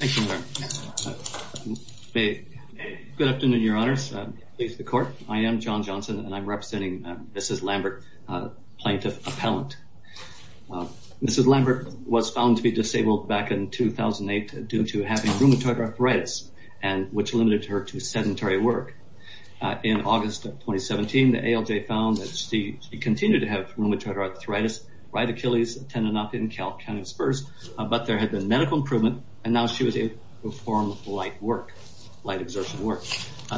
Good afternoon, your honors. I am John Johnson, and I'm representing Mrs. Lambert, plaintiff appellant. Mrs. Lambert was found to be disabled back in 2008 due to having rheumatoid arthritis, which limited her to sedentary work. In August 2017, the ALJ found that she continued to have rheumatoid arthritis, right Achilles tendonopathy and calcaneus spurs, but there had been medical improvement, and now she was able to perform light work, light exertion work.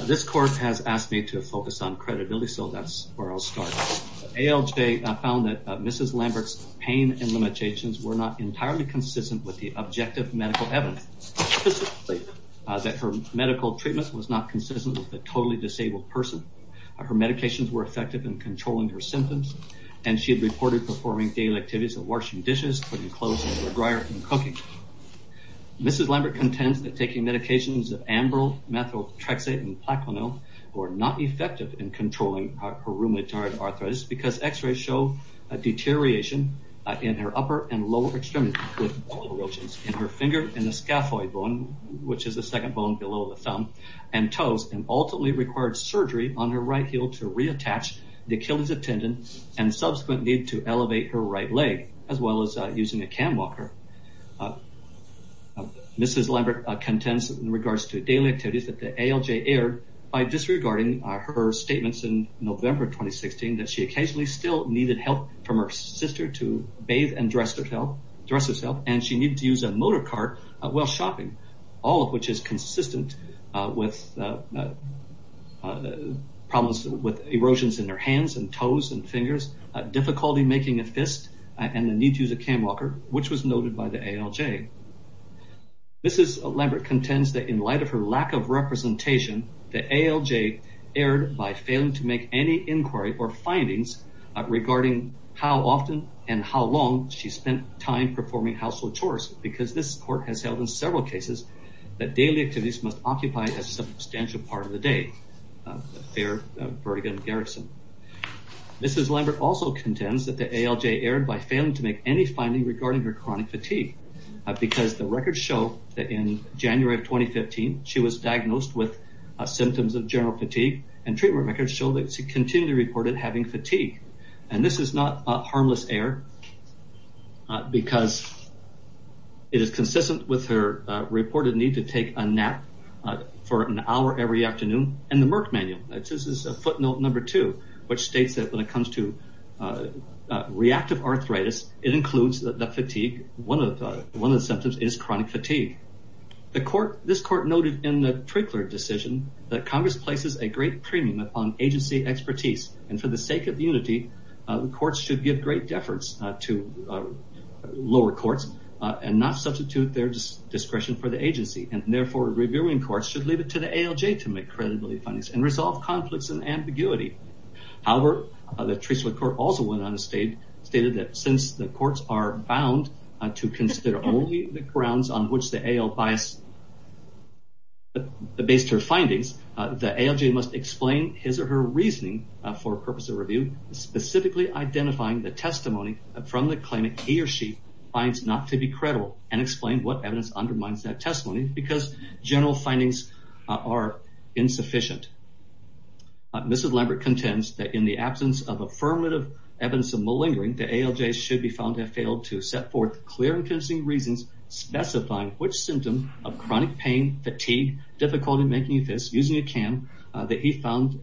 This court has asked me to focus on credibility, so that's where I'll start. ALJ found that Mrs. Lambert's pain and limitations were not entirely consistent with the objective medical evidence, specifically that her medical treatment was not consistent with a totally disabled person. Her medications were effective in controlling her symptoms, and she had reported daily activities of washing dishes, putting clothes in the dryer, and cooking. Mrs. Lambert contends that taking medications of Ambryl, Methotrexate, and Plaquenil were not effective in controlling her rheumatoid arthritis, because x-rays show a deterioration in her upper and lower extremities, with bulges in her finger and the scaphoid bone, which is the second bone below the thumb, and toes, and ultimately required surgery on her right heel to reattach the Achilles tendon, and subsequent need to elevate her right leg, as well as using a cam walker. Mrs. Lambert contends, in regards to daily activities, that the ALJ erred by disregarding her statements in November 2016 that she occasionally still needed help from her sister to bathe and dress herself, and she needed to use a motor car while shopping, all of which is consistent with problems with erosions in her hands and toes and fingers, difficulty making a fist, and the need to use a cam walker, which was noted by the ALJ. Mrs. Lambert contends that in light of her lack of representation, the ALJ erred by failing to make any inquiry or findings regarding how often and how long she spent time performing household chores, because this court has held in several cases that daily activities must occupy a substantial part of the day, a fair vertigin garrison. Mrs. Lambert also contends that the ALJ erred by failing to make any finding regarding her chronic fatigue, because the records show that in January of 2015, she was diagnosed with symptoms of general fatigue, and treatment records show that she is consistent with her reported need to take a nap for an hour every afternoon, and the Merck Manual, footnote number two, which states that when it comes to reactive arthritis, it includes the fatigue, one of the symptoms is chronic fatigue. This court noted in the Prickler decision that Congress places a great premium upon agency expertise, and for the sake of unity, the courts should give great deference to lower courts, and not substitute their discretion for the agency, and therefore, reviewing courts should leave it to the ALJ to make credibility findings, and resolve conflicts and ambiguity. However, the Treasury Court also went on to state that since the courts are bound to consider only the grounds on which the ALJ based her findings, the ALJ must explain his or her reasoning for purpose of review, specifically identifying the testimony from the claimant he or she finds not to be credible, and explain what evidence undermines that testimony, because general findings are insufficient. Mrs. Lambert contends that in the absence of affirmative evidence of malingering, the ALJ should be found to have failed to set forth clear and convincing reasons specifying which symptoms of chronic pain, fatigue, difficulty making fits, using a cam, that he found,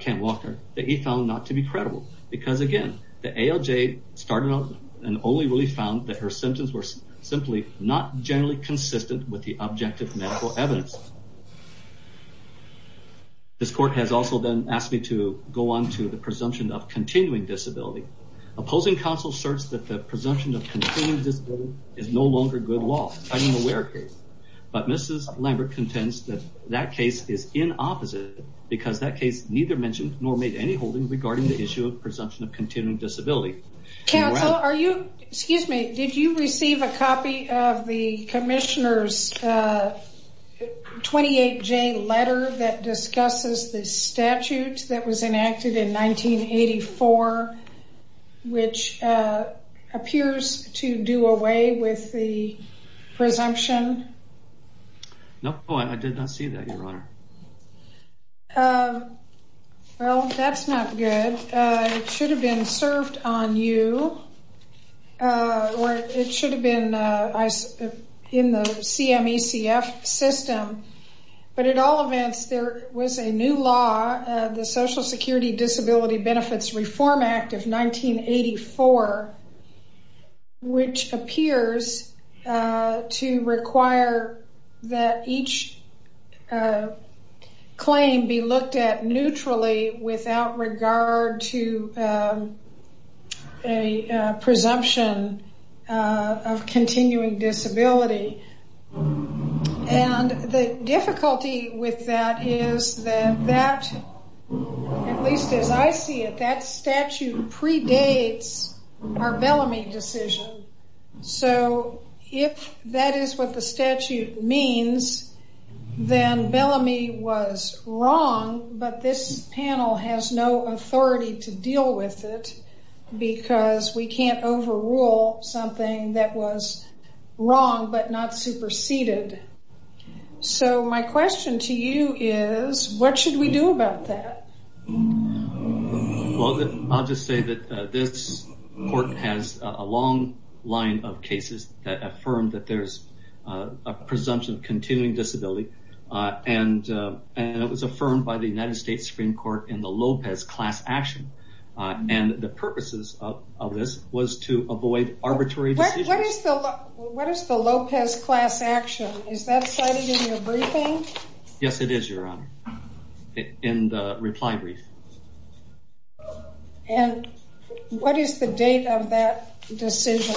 Cam Walker, that he found not to be credible, because again, the ALJ started out and only really found that her symptoms were simply not generally consistent with the objective medical evidence. This court has also then asked me to go on to the presumption of continuing disability. Opposing counsel asserts that the presumption of continuing disability is no Mrs. Lambert contends that that case is inopposite, because that case neither mentioned nor made any holding regarding the issue of presumption of continuing disability. Counsel, are you, excuse me, did you receive a copy of the Commissioner's 28J letter that discusses the statute that was enacted in 1984, which appears to do away with the presumption? No, I did not see that, Your Honor. Well, that's not good. It should have been served on you, or it should have been in the CMECF system. But in all events, there was a new law, the Social Security Disability Benefits Reform Act of 1984, which appears to require that each claim be looked at neutrally without regard to a presumption of continuing disability. And the difficulty with that is that that, at least as I see it, that statute predates our Bellamy decision. So if that is what the statute means, then Bellamy was wrong, but this panel has no authority to deal with it, because we can't overrule something that was wrong but not superseded. So my question to you is, what should we do about that? Well, I'll just say that this court has a long line of cases that affirm that there's a presumption of continuing disability, and it was affirmed by the United States Supreme Court in the Lopez class action. And the purposes of this was to avoid arbitrary decisions. What is the Lopez class action? Is that cited in your briefing? Yes, it is, Your Honor, in the reply brief. And what is the date of that decision?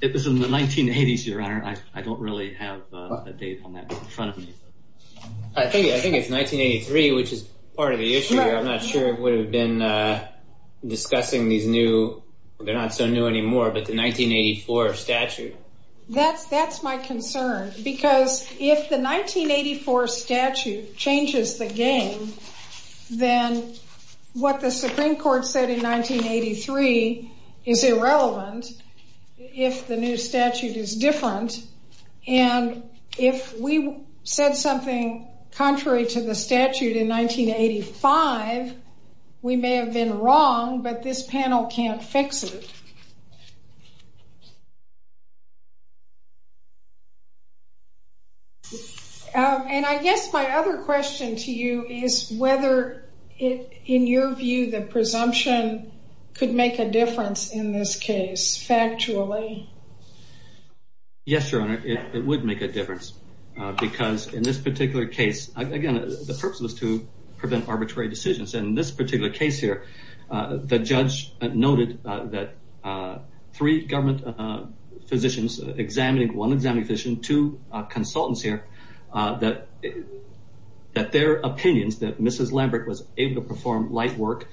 It was in the 1980s, Your Honor. I don't really have a date on that in front of me. I think it's 1983, which is part of the issue. I'm not sure it would have been discussing these new, they're not so new anymore, but the 1984 statute. That's my concern, because if the 1984 statute changes the game, then what the Supreme Court said in 1983 is irrelevant if the new statute is different. And if we said something contrary to the statute in 1985, we may have been wrong, but this panel can't fix it. And I guess my other question to you is whether, in your view, the presumption could make a difference in this case, factually. Yes, Your Honor, it would make a difference, because in this particular case, again, the purpose was to prevent arbitrary decisions. And in this particular case here, the judge noted that three government physicians examining, one examining physician, two consultants here, that their opinions that Mrs. Lambert was able to perform light work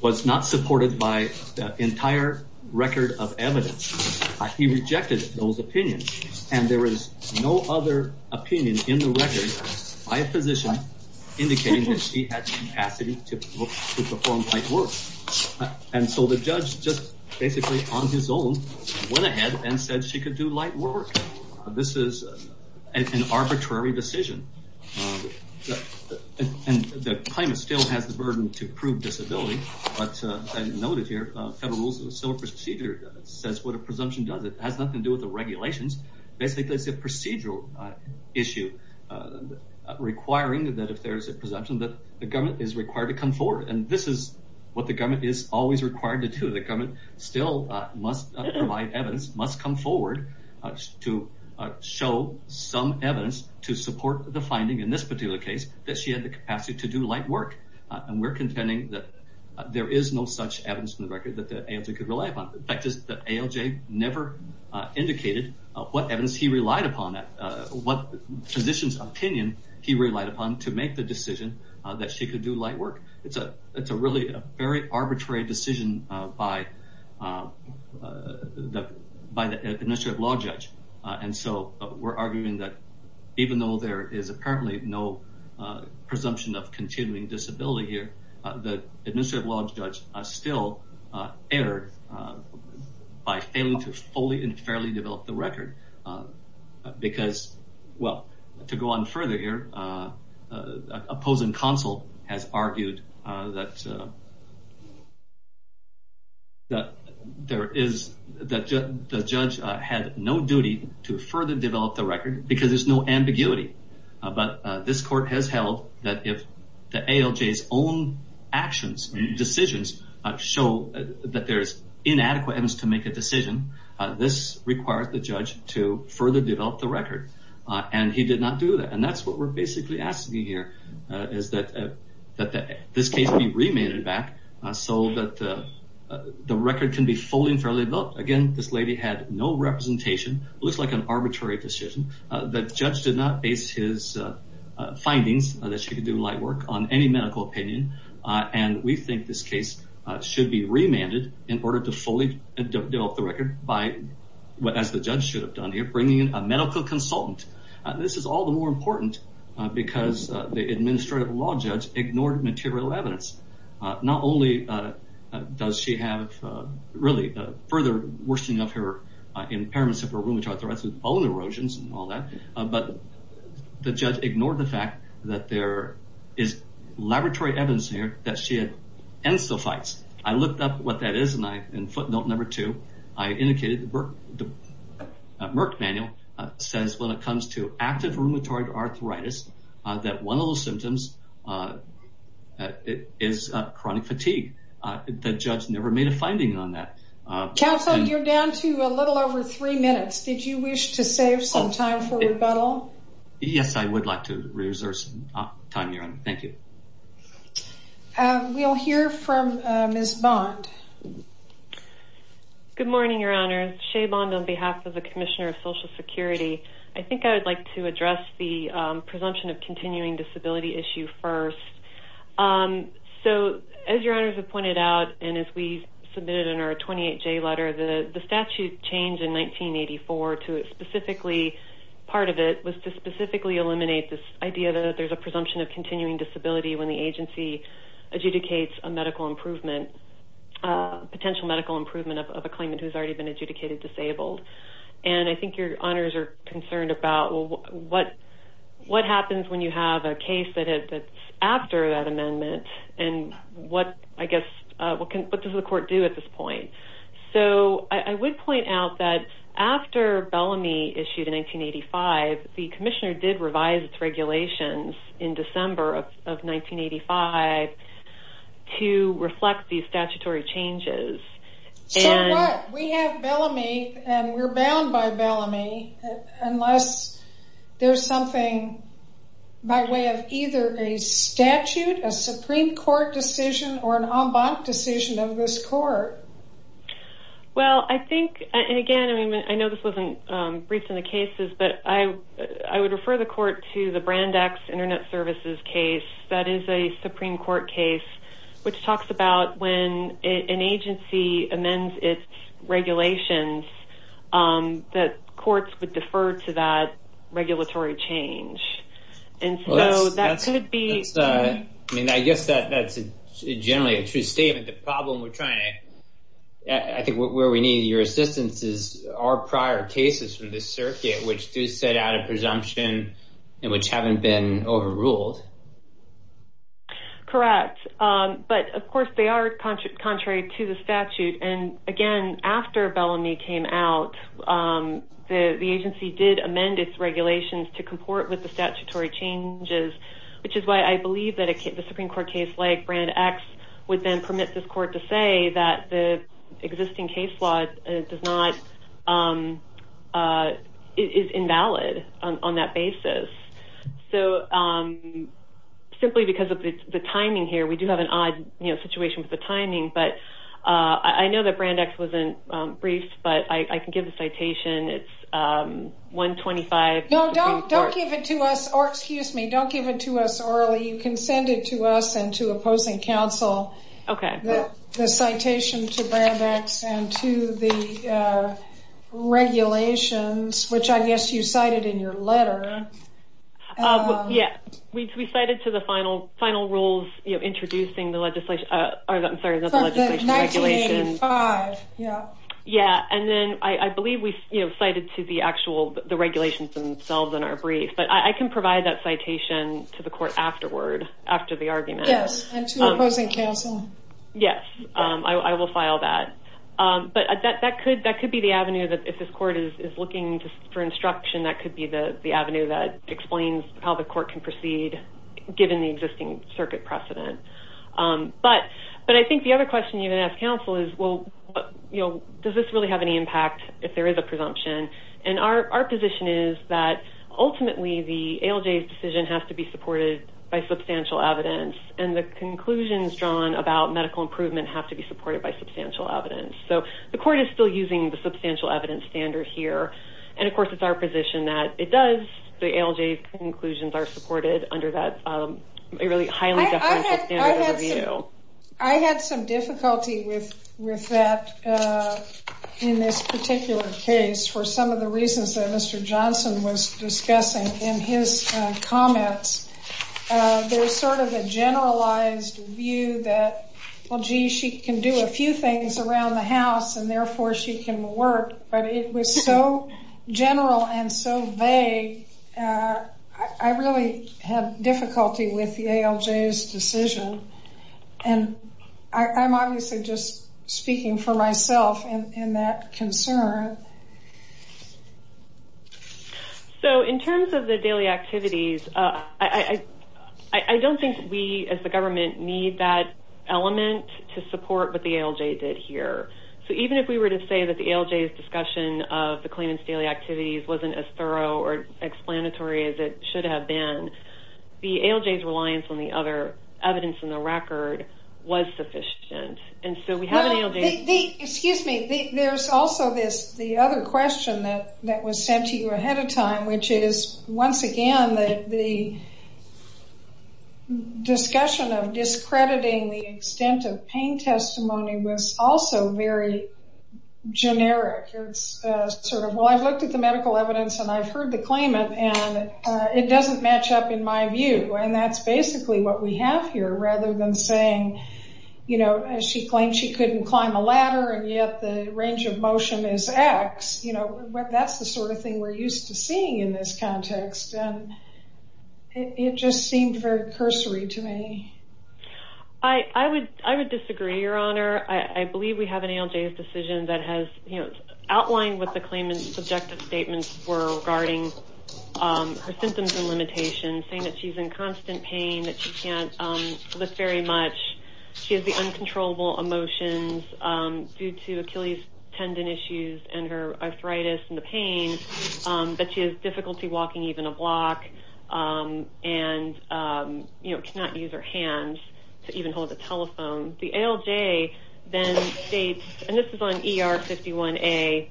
was not supported by the entire record of evidence. He rejected those opinions, and there is no other opinion in the record by a physician indicating that she had the capacity to perform light work. And so the judge, just basically on his own, went ahead and said she could do light work. This is an arbitrary decision. And the claimant still has the burden to prove disability, but I noted here, Federal Rules of Civil Procedure says what a presumption does. It has nothing to do with the regulations. Basically, it's a procedural issue, requiring that if there's a presumption, that the government is required to come forward. And this is what the judge did, to show some evidence to support the finding in this particular case that she had the capacity to do light work. And we're contending that there is no such evidence in the record that the ALJ could rely upon. The fact is that ALJ never indicated what evidence he relied upon, what physician's opinion he relied upon to make the decision that she could do light work. It's a really very arbitrary decision by the Administrative Law Judge. And so we're arguing that even though there is apparently no presumption of continuing disability here, the Administrative Law Judge still erred by failing to fully and fairly develop the record. Because, well, to go further here, opposing counsel has argued that the judge had no duty to further develop the record because there's no ambiguity. But this court has held that if the ALJ's own actions and decisions show that there's inadequate evidence to make a decision, this requires the judge to further develop the record. And he did not do that. And that's what we're basically asking here, is that this case be remanded back so that the record can be fully and fairly developed. Again, this lady had no representation. It looks like an arbitrary decision. The judge did not base his findings that she could do light work on any medical opinion. And we think this case should be remanded in order to fully develop the record by, as the judge should have done here, bringing in a medical consultant. This is all the more important because the Administrative Law Judge ignored material evidence. Not only does she have, really, further worsening of her impairments of her rheumatoid arthritis with bone erosions and all that, but the judge ignored the fact that there is laboratory evidence here that she had encephalitis. I looked up what that is, and in the Merck Manual, it says when it comes to active rheumatoid arthritis, that one of those symptoms is chronic fatigue. The judge never made a finding on that. Counsel, you're down to a little over three minutes. Did you wish to save some time for rebuttal? Yes, I would like to reserve some time here. Thank you. We'll hear from Ms. Bond. Good morning, Your Honor. Shea Bond on behalf of the Commissioner of Social Security. I think I would like to address the presumption of continuing disability issue first. So, as Your Honors have pointed out, and as we submitted in our 28J letter, the statute changed in 1984 to specifically, part of it was to specifically eliminate this idea that there's a presumption of continuing disability when the agency adjudicates a medical improvement. Potential medical improvement of a claimant who's already been adjudicated disabled. And I think Your Honors are concerned about what happens when you have a case that's after that amendment, and what, I guess, what does the court do at this point? So, I would point out that after Bellamy issued in 1985, the Commissioner did revise its regulations in December of 1985 to reflect these statutory changes. So what? We have Bellamy, and we're bound by Bellamy unless there's something by way of either a statute, a Supreme Court decision, or an en banc decision of this court. Well, I think, and again, I know this wasn't briefed in the cases, but I would refer the Internet Services case that is a Supreme Court case, which talks about when an agency amends its regulations, that courts would defer to that regulatory change. And so that could be. I mean, I guess that's generally a true statement. The problem we're trying to, I think where we need your assistance is our prior cases from this circuit, which do set out presumption and which haven't been overruled. Correct. But of course, they are contrary to the statute. And again, after Bellamy came out, the agency did amend its regulations to comport with the statutory changes, which is why I believe that the Supreme Court case like Brand X would permit this court to say that the existing case law is invalid on that basis. So simply because of the timing here, we do have an odd situation with the timing, but I know that Brand X wasn't briefed, but I can give the citation. It's 125. No, don't give it to us, or excuse me, don't give it to us orally. You can send it to us and to opposing counsel. Okay. The citation to Brand X and to the regulations, which I guess you cited in your letter. Yeah, we cited to the final rules, you know, introducing the legislation. Yeah. And then I believe we cited to the actual regulations themselves in our brief, but I can provide that citation to the court afterward, after the argument. And to opposing counsel. Yes, I will file that. But that could be the avenue that if this court is looking for instruction, that could be the avenue that explains how the court can proceed given the existing circuit precedent. But I think the other question you're going to ask counsel is, well, does this really have any impact if there is a presumption? And our position is that the conclusions drawn about medical improvement have to be supported by substantial evidence. So the court is still using the substantial evidence standard here. And of course, it's our position that it does. The ALJ conclusions are supported under that really highly deferential standard of review. I had some difficulty with that in this particular case for some of the reasons that Mr. Johnson was discussing in his comments. There was sort of a generalized view that, well, gee, she can do a few things around the house, and therefore she can work. But it was so general and so vague, I really had difficulty with the ALJ's decision. And I'm obviously just speaking for myself in that concern. So in terms of the daily activities, I don't think we as the government need that element to support what the ALJ did here. So even if we were to say that the ALJ's discussion of the claimant's daily activities wasn't as thorough or explanatory as it should have been, the ALJ's reliance on the other evidence in the record was sufficient. And so we have an ALJ... Excuse me. There's also the other question that was sent to you ahead of time, which is, once again, the discussion of discrediting the extent of pain testimony was also very generic. It's sort of, well, I've looked at the medical evidence and I've heard the claimant, and it doesn't match up in my view. And that's basically what we have here, rather than saying, she claimed she couldn't climb a ladder and yet the range of motion is X. That's the sort of thing we're used to seeing in this context. And it just seemed very cursory to me. I would disagree, Your Honor. I believe we have an ALJ's decision that has outlined what the claimant's subjective statements were regarding her symptoms and limitations, saying that she's constant pain, that she can't lift very much. She has the uncontrollable emotions due to Achilles tendon issues and her arthritis and the pain, but she has difficulty walking even a block and cannot use her hands to even hold a telephone. The ALJ then states, and this is on ER 51A,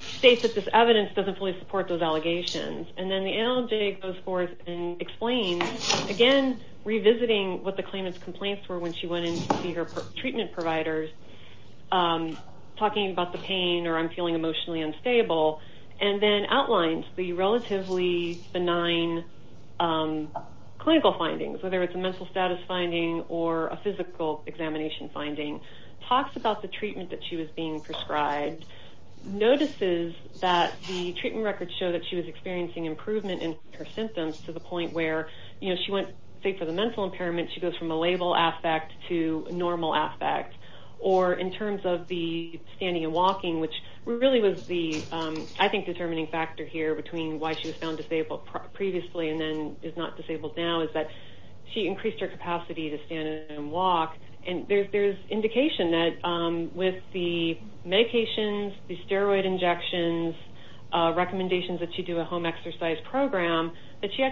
states that this evidence doesn't fully support those allegations. And then the ALJ goes forth and explains, again, revisiting what the claimant's complaints were when she went in to see her treatment providers, talking about the pain or I'm feeling emotionally unstable, and then outlines the relatively benign clinical findings, whether it's a mental status finding or a physical examination finding, talks about the treatment that she was being prescribed, notices that the point where she went, say, for the mental impairment, she goes from a label aspect to normal aspect. Or in terms of the standing and walking, which really was the, I think, determining factor here between why she was found disabled previously and then is not disabled now, is that she increased her capacity to stand and walk. And there's indication that with the medications, the steroid injections, recommendations that she do a home exercise program, that she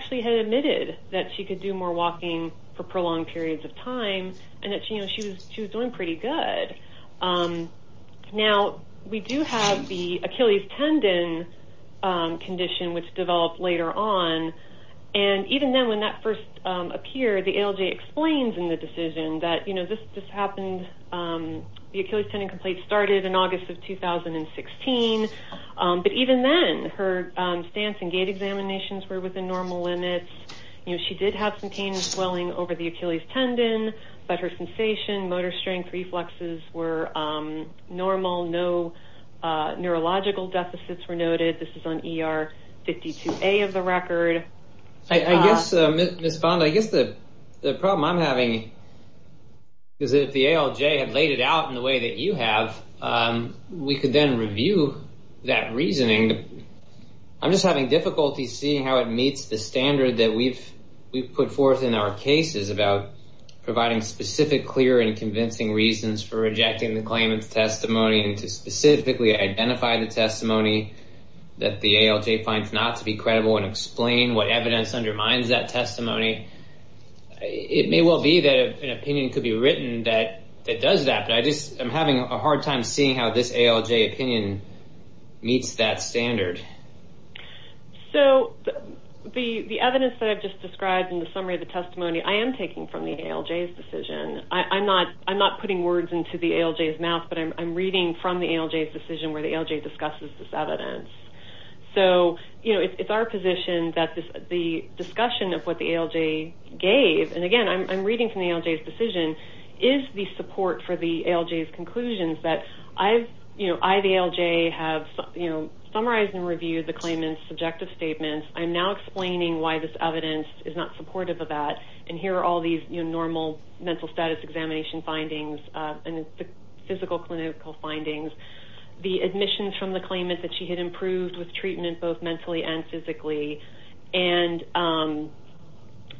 admitted that she could do more walking for prolonged periods of time and that she was doing pretty good. Now, we do have the Achilles tendon condition, which developed later on. And even then when that first appeared, the ALJ explains in the decision that this happened, the Achilles tendon complaint started in August of 2016. But even then, her stance and gait examinations were within normal limits. She did have some pain and swelling over the Achilles tendon, but her sensation, motor strength, reflexes were normal. No neurological deficits were noted. This is on ER 52A of the record. I guess, Ms. Bond, I guess the problem I'm having is that if the ALJ had laid it out in the way that you have, we could then review that reasoning. I'm just having difficulty seeing how it meets the standard that we've put forth in our cases about providing specific, clear, and convincing reasons for rejecting the claimant's testimony and to specifically identify the testimony that the ALJ finds not to be credible and explain what evidence undermines that testimony. It may well be that an opinion could be written that does that, but I'm having a hard time seeing how this ALJ opinion meets that standard. So the evidence that I've just described in the summary of the testimony, I am taking from the ALJ's decision. I'm not putting words into the ALJ's mouth, but I'm reading from the ALJ's decision where the ALJ discusses this evidence. So, you know, it's our position that the discussion of what the ALJ gave, and again, I'm reading from the ALJ's decision, is the support for the ALJ's conclusions that I've, you know, I, the ALJ, have, you know, summarized and reviewed the claimant's subjective statements. I'm now explaining why this evidence is not supportive of that, and here are all these, you know, normal mental status examination findings and physical clinical findings. The admissions from the claimant that she had improved with treatment both mentally and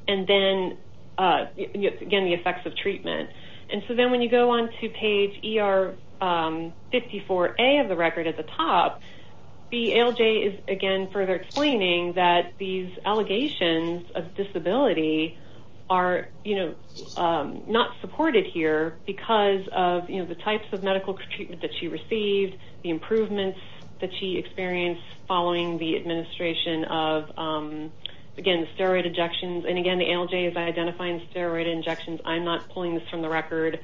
then, again, the effects of treatment. And so then when you go on to page ER 54A of the record at the top, the ALJ is, again, further explaining that these allegations of disability are, you know, not supported here because of, you know, the types of medical treatment that she received, the improvements that she experienced following the administration of, again, steroid injections, and again, the ALJ is identifying steroid injections. I'm not pulling this from the record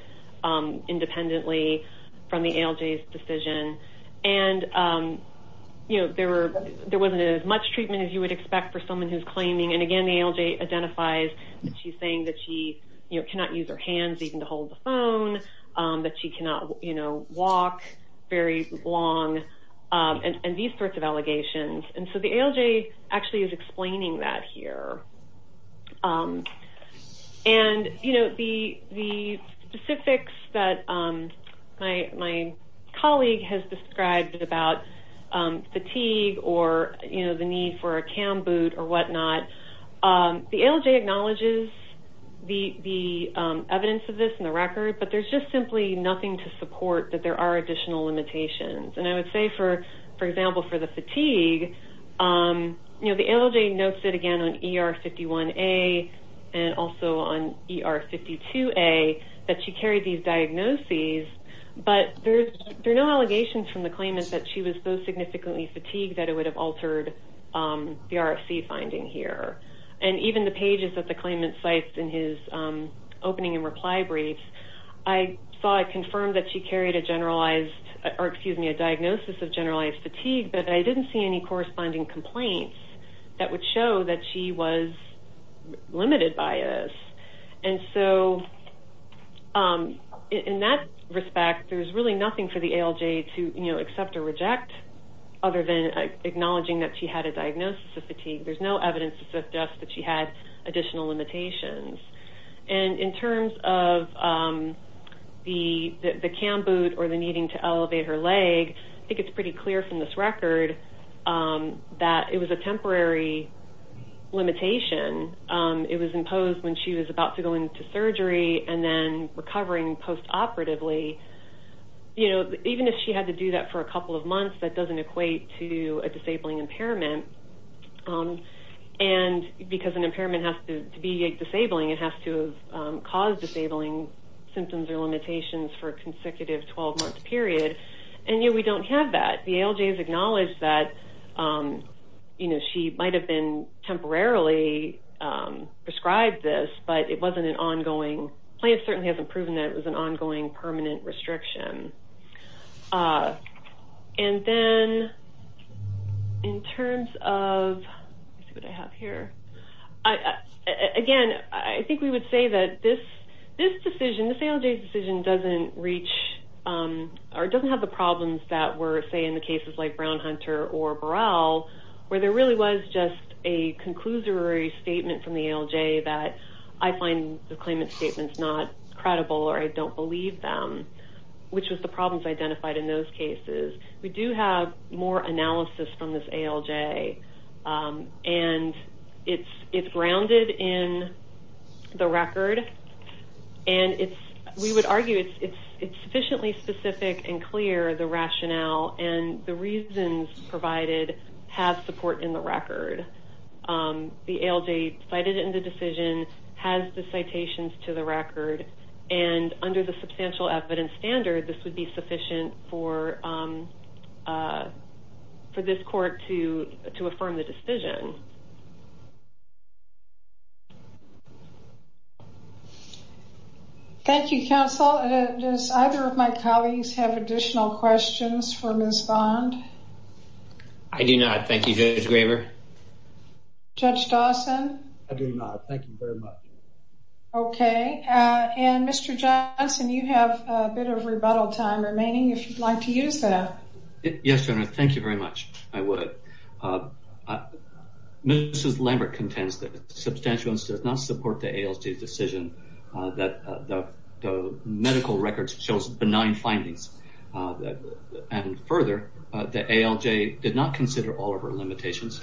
independently from the ALJ's decision. And, you know, there were, there wasn't as much treatment as you would expect for someone who's claiming, and again, the ALJ identifies that she's saying that she, you know, cannot use her hands even to hold the phone, that she cannot, you know, walk very long, and these sorts of allegations. And so the ALJ actually is explaining that here. And, you know, the specifics that my colleague has described about fatigue or, you know, the need for a CAM boot or whatnot, the ALJ acknowledges the evidence of this in the record, but there's just simply nothing to support that there are additional limitations. And I would say for, for example, for the fatigue, you know, the ALJ notes it again on ER51A and also on ER52A that she carried these diagnoses, but there's, there are no allegations from the claimant that she was so significantly fatigued that it would have altered the RFC finding here. And even the pages that the claimant cites in his opening and reply brief, I saw it confirmed that she carried a generalized, or excuse me, a diagnosis of generalized fatigue, but I didn't see any corresponding complaints that would show that she was limited by this. And so in that respect, there's really nothing for the ALJ to, you know, accept or reject other than acknowledging that she had a diagnosis of fatigue. There's no evidence to suggest that she had additional limitations. And in terms of the, the CAM boot or the needing to elevate her leg, I think it's pretty clear from this record that it was a temporary limitation. It was imposed when she was about to go into surgery and then recovering post-operatively. You know, even if she had to do that for a couple of months, that doesn't equate to a disabling impairment. And because an impairment has to be a disabling, it has to have caused disabling symptoms or limitations for a consecutive 12-month period. And yet we don't have that. The ALJ has acknowledged that, you know, she might have been temporarily prescribed this, but it wasn't an ongoing, the plaintiff certainly hasn't proven that it was an ongoing permanent restriction. And then in terms of, let's see what I have here. Again, I think we would say that this decision, this ALJ's decision doesn't reach or doesn't have the problems that were, say, in the cases like Brown-Hunter or Burrell, where there really was just a conclusory statement from the ALJ that I find the claimant statements not credible or I don't believe them, which was the problems identified in those cases. We do have more analysis from this ALJ and it's grounded in the record. And we would argue it's sufficiently specific and clear, the rationale and the reasons provided have support in the record. The ALJ cited in the decision has the citations to the record and under the substantial evidence standard, this would be sufficient for this court to affirm the decision. Thank you, counsel. Does either of my colleagues have additional questions for Ms. Bond? I do not. Thank you, Judge Graber. Judge Dawson? I do not. Thank you very much. Okay. And Mr. Johnson, you have a bit of rebuttal time remaining if you'd like to use that. Yes, Your Honor. Thank you very much. I would. Mrs. Lambert contends that the substantial evidence does not support the ALJ's decision that the medical records shows benign findings. And further, the ALJ did not consider all of her limitations.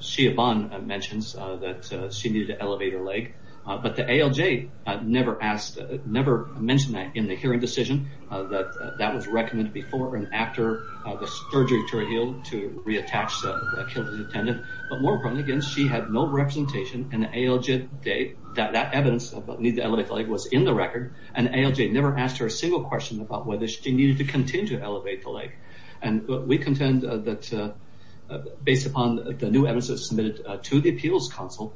Shea Bond mentions that she needed to elevate her leg, but the ALJ never mentioned that in the hearing decision. That was recommended before and after the surgery to reattach the leg. That evidence about the need to elevate the leg was in the record and ALJ never asked her a single question about whether she needed to continue to elevate the leg. And we contend that based upon the new evidence that was submitted to the appeals council,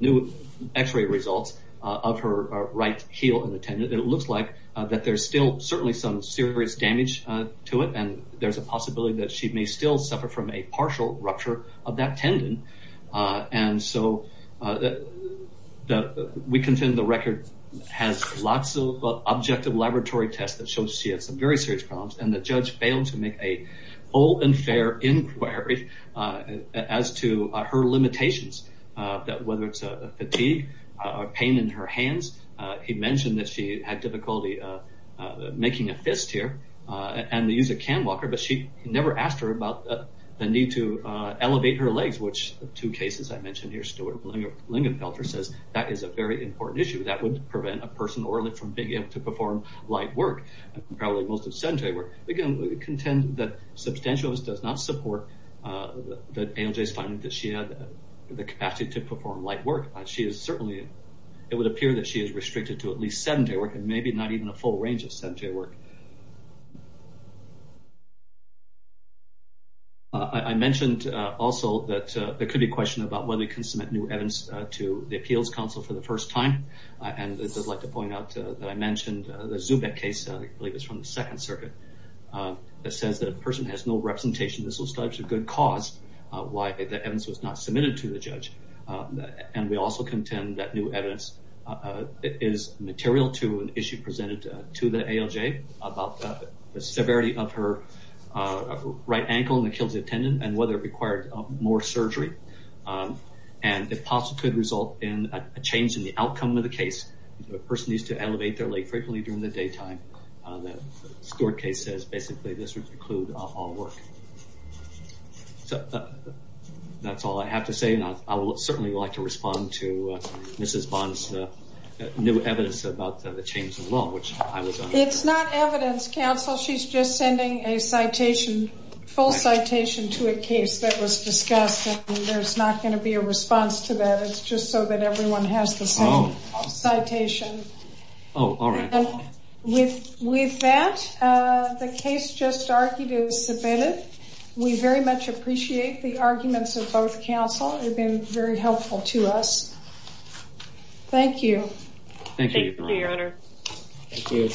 new x-ray results of her right heel and the tendon, it looks like that there's still certainly some serious damage to it and there's a possibility that she may still suffer from a partial rupture of that tendon. And so we contend the record has lots of objective laboratory tests that show she has some very serious problems and the judge failed to make a whole and fair inquiry as to her limitations, whether it's fatigue or pain in her hands. He mentioned that she had difficulty making a fist here and to use a cam walker, but she never asked her about the need to elevate her legs, which two cases I mentioned here, Stuart Lingenfelter says that is a very important issue. That would prevent a person orally from being able to perform light work and probably most of sedentary work. Again, we contend that Substantialist does not support the ALJ's finding that she had the capacity to perform light work. She is certainly, it would appear that she is able to perform a full range of sedentary work. I mentioned also that there could be a question about whether you can submit new evidence to the Appeals Council for the first time. And I'd just like to point out that I mentioned the Zubek case, I believe it's from the Second Circuit, that says that a person has no representation. This was a good cause why the evidence was not submitted to the judge. And we also contend that new evidence is material to an issue presented to the ALJ about the severity of her right ankle and Achilles tendon and whether it required more surgery. And it possibly could result in a change in the outcome of the case. A person needs to elevate their leg frequently during the daytime. The Stuart case says basically this would preclude all work. That's all I have to say and I would certainly like to respond to Mrs. Bond's new evidence about the change as well. It's not evidence, counsel. She's just sending a full citation to a case that was discussed. There's not going to be a response to that. It's just so that everyone has the same citation. Oh, all right. With that, the case just argued is submitted. We very much appreciate the arguments of both counsel. They've been very helpful to us. Thank you. Thank you, Your Honor. Thank you.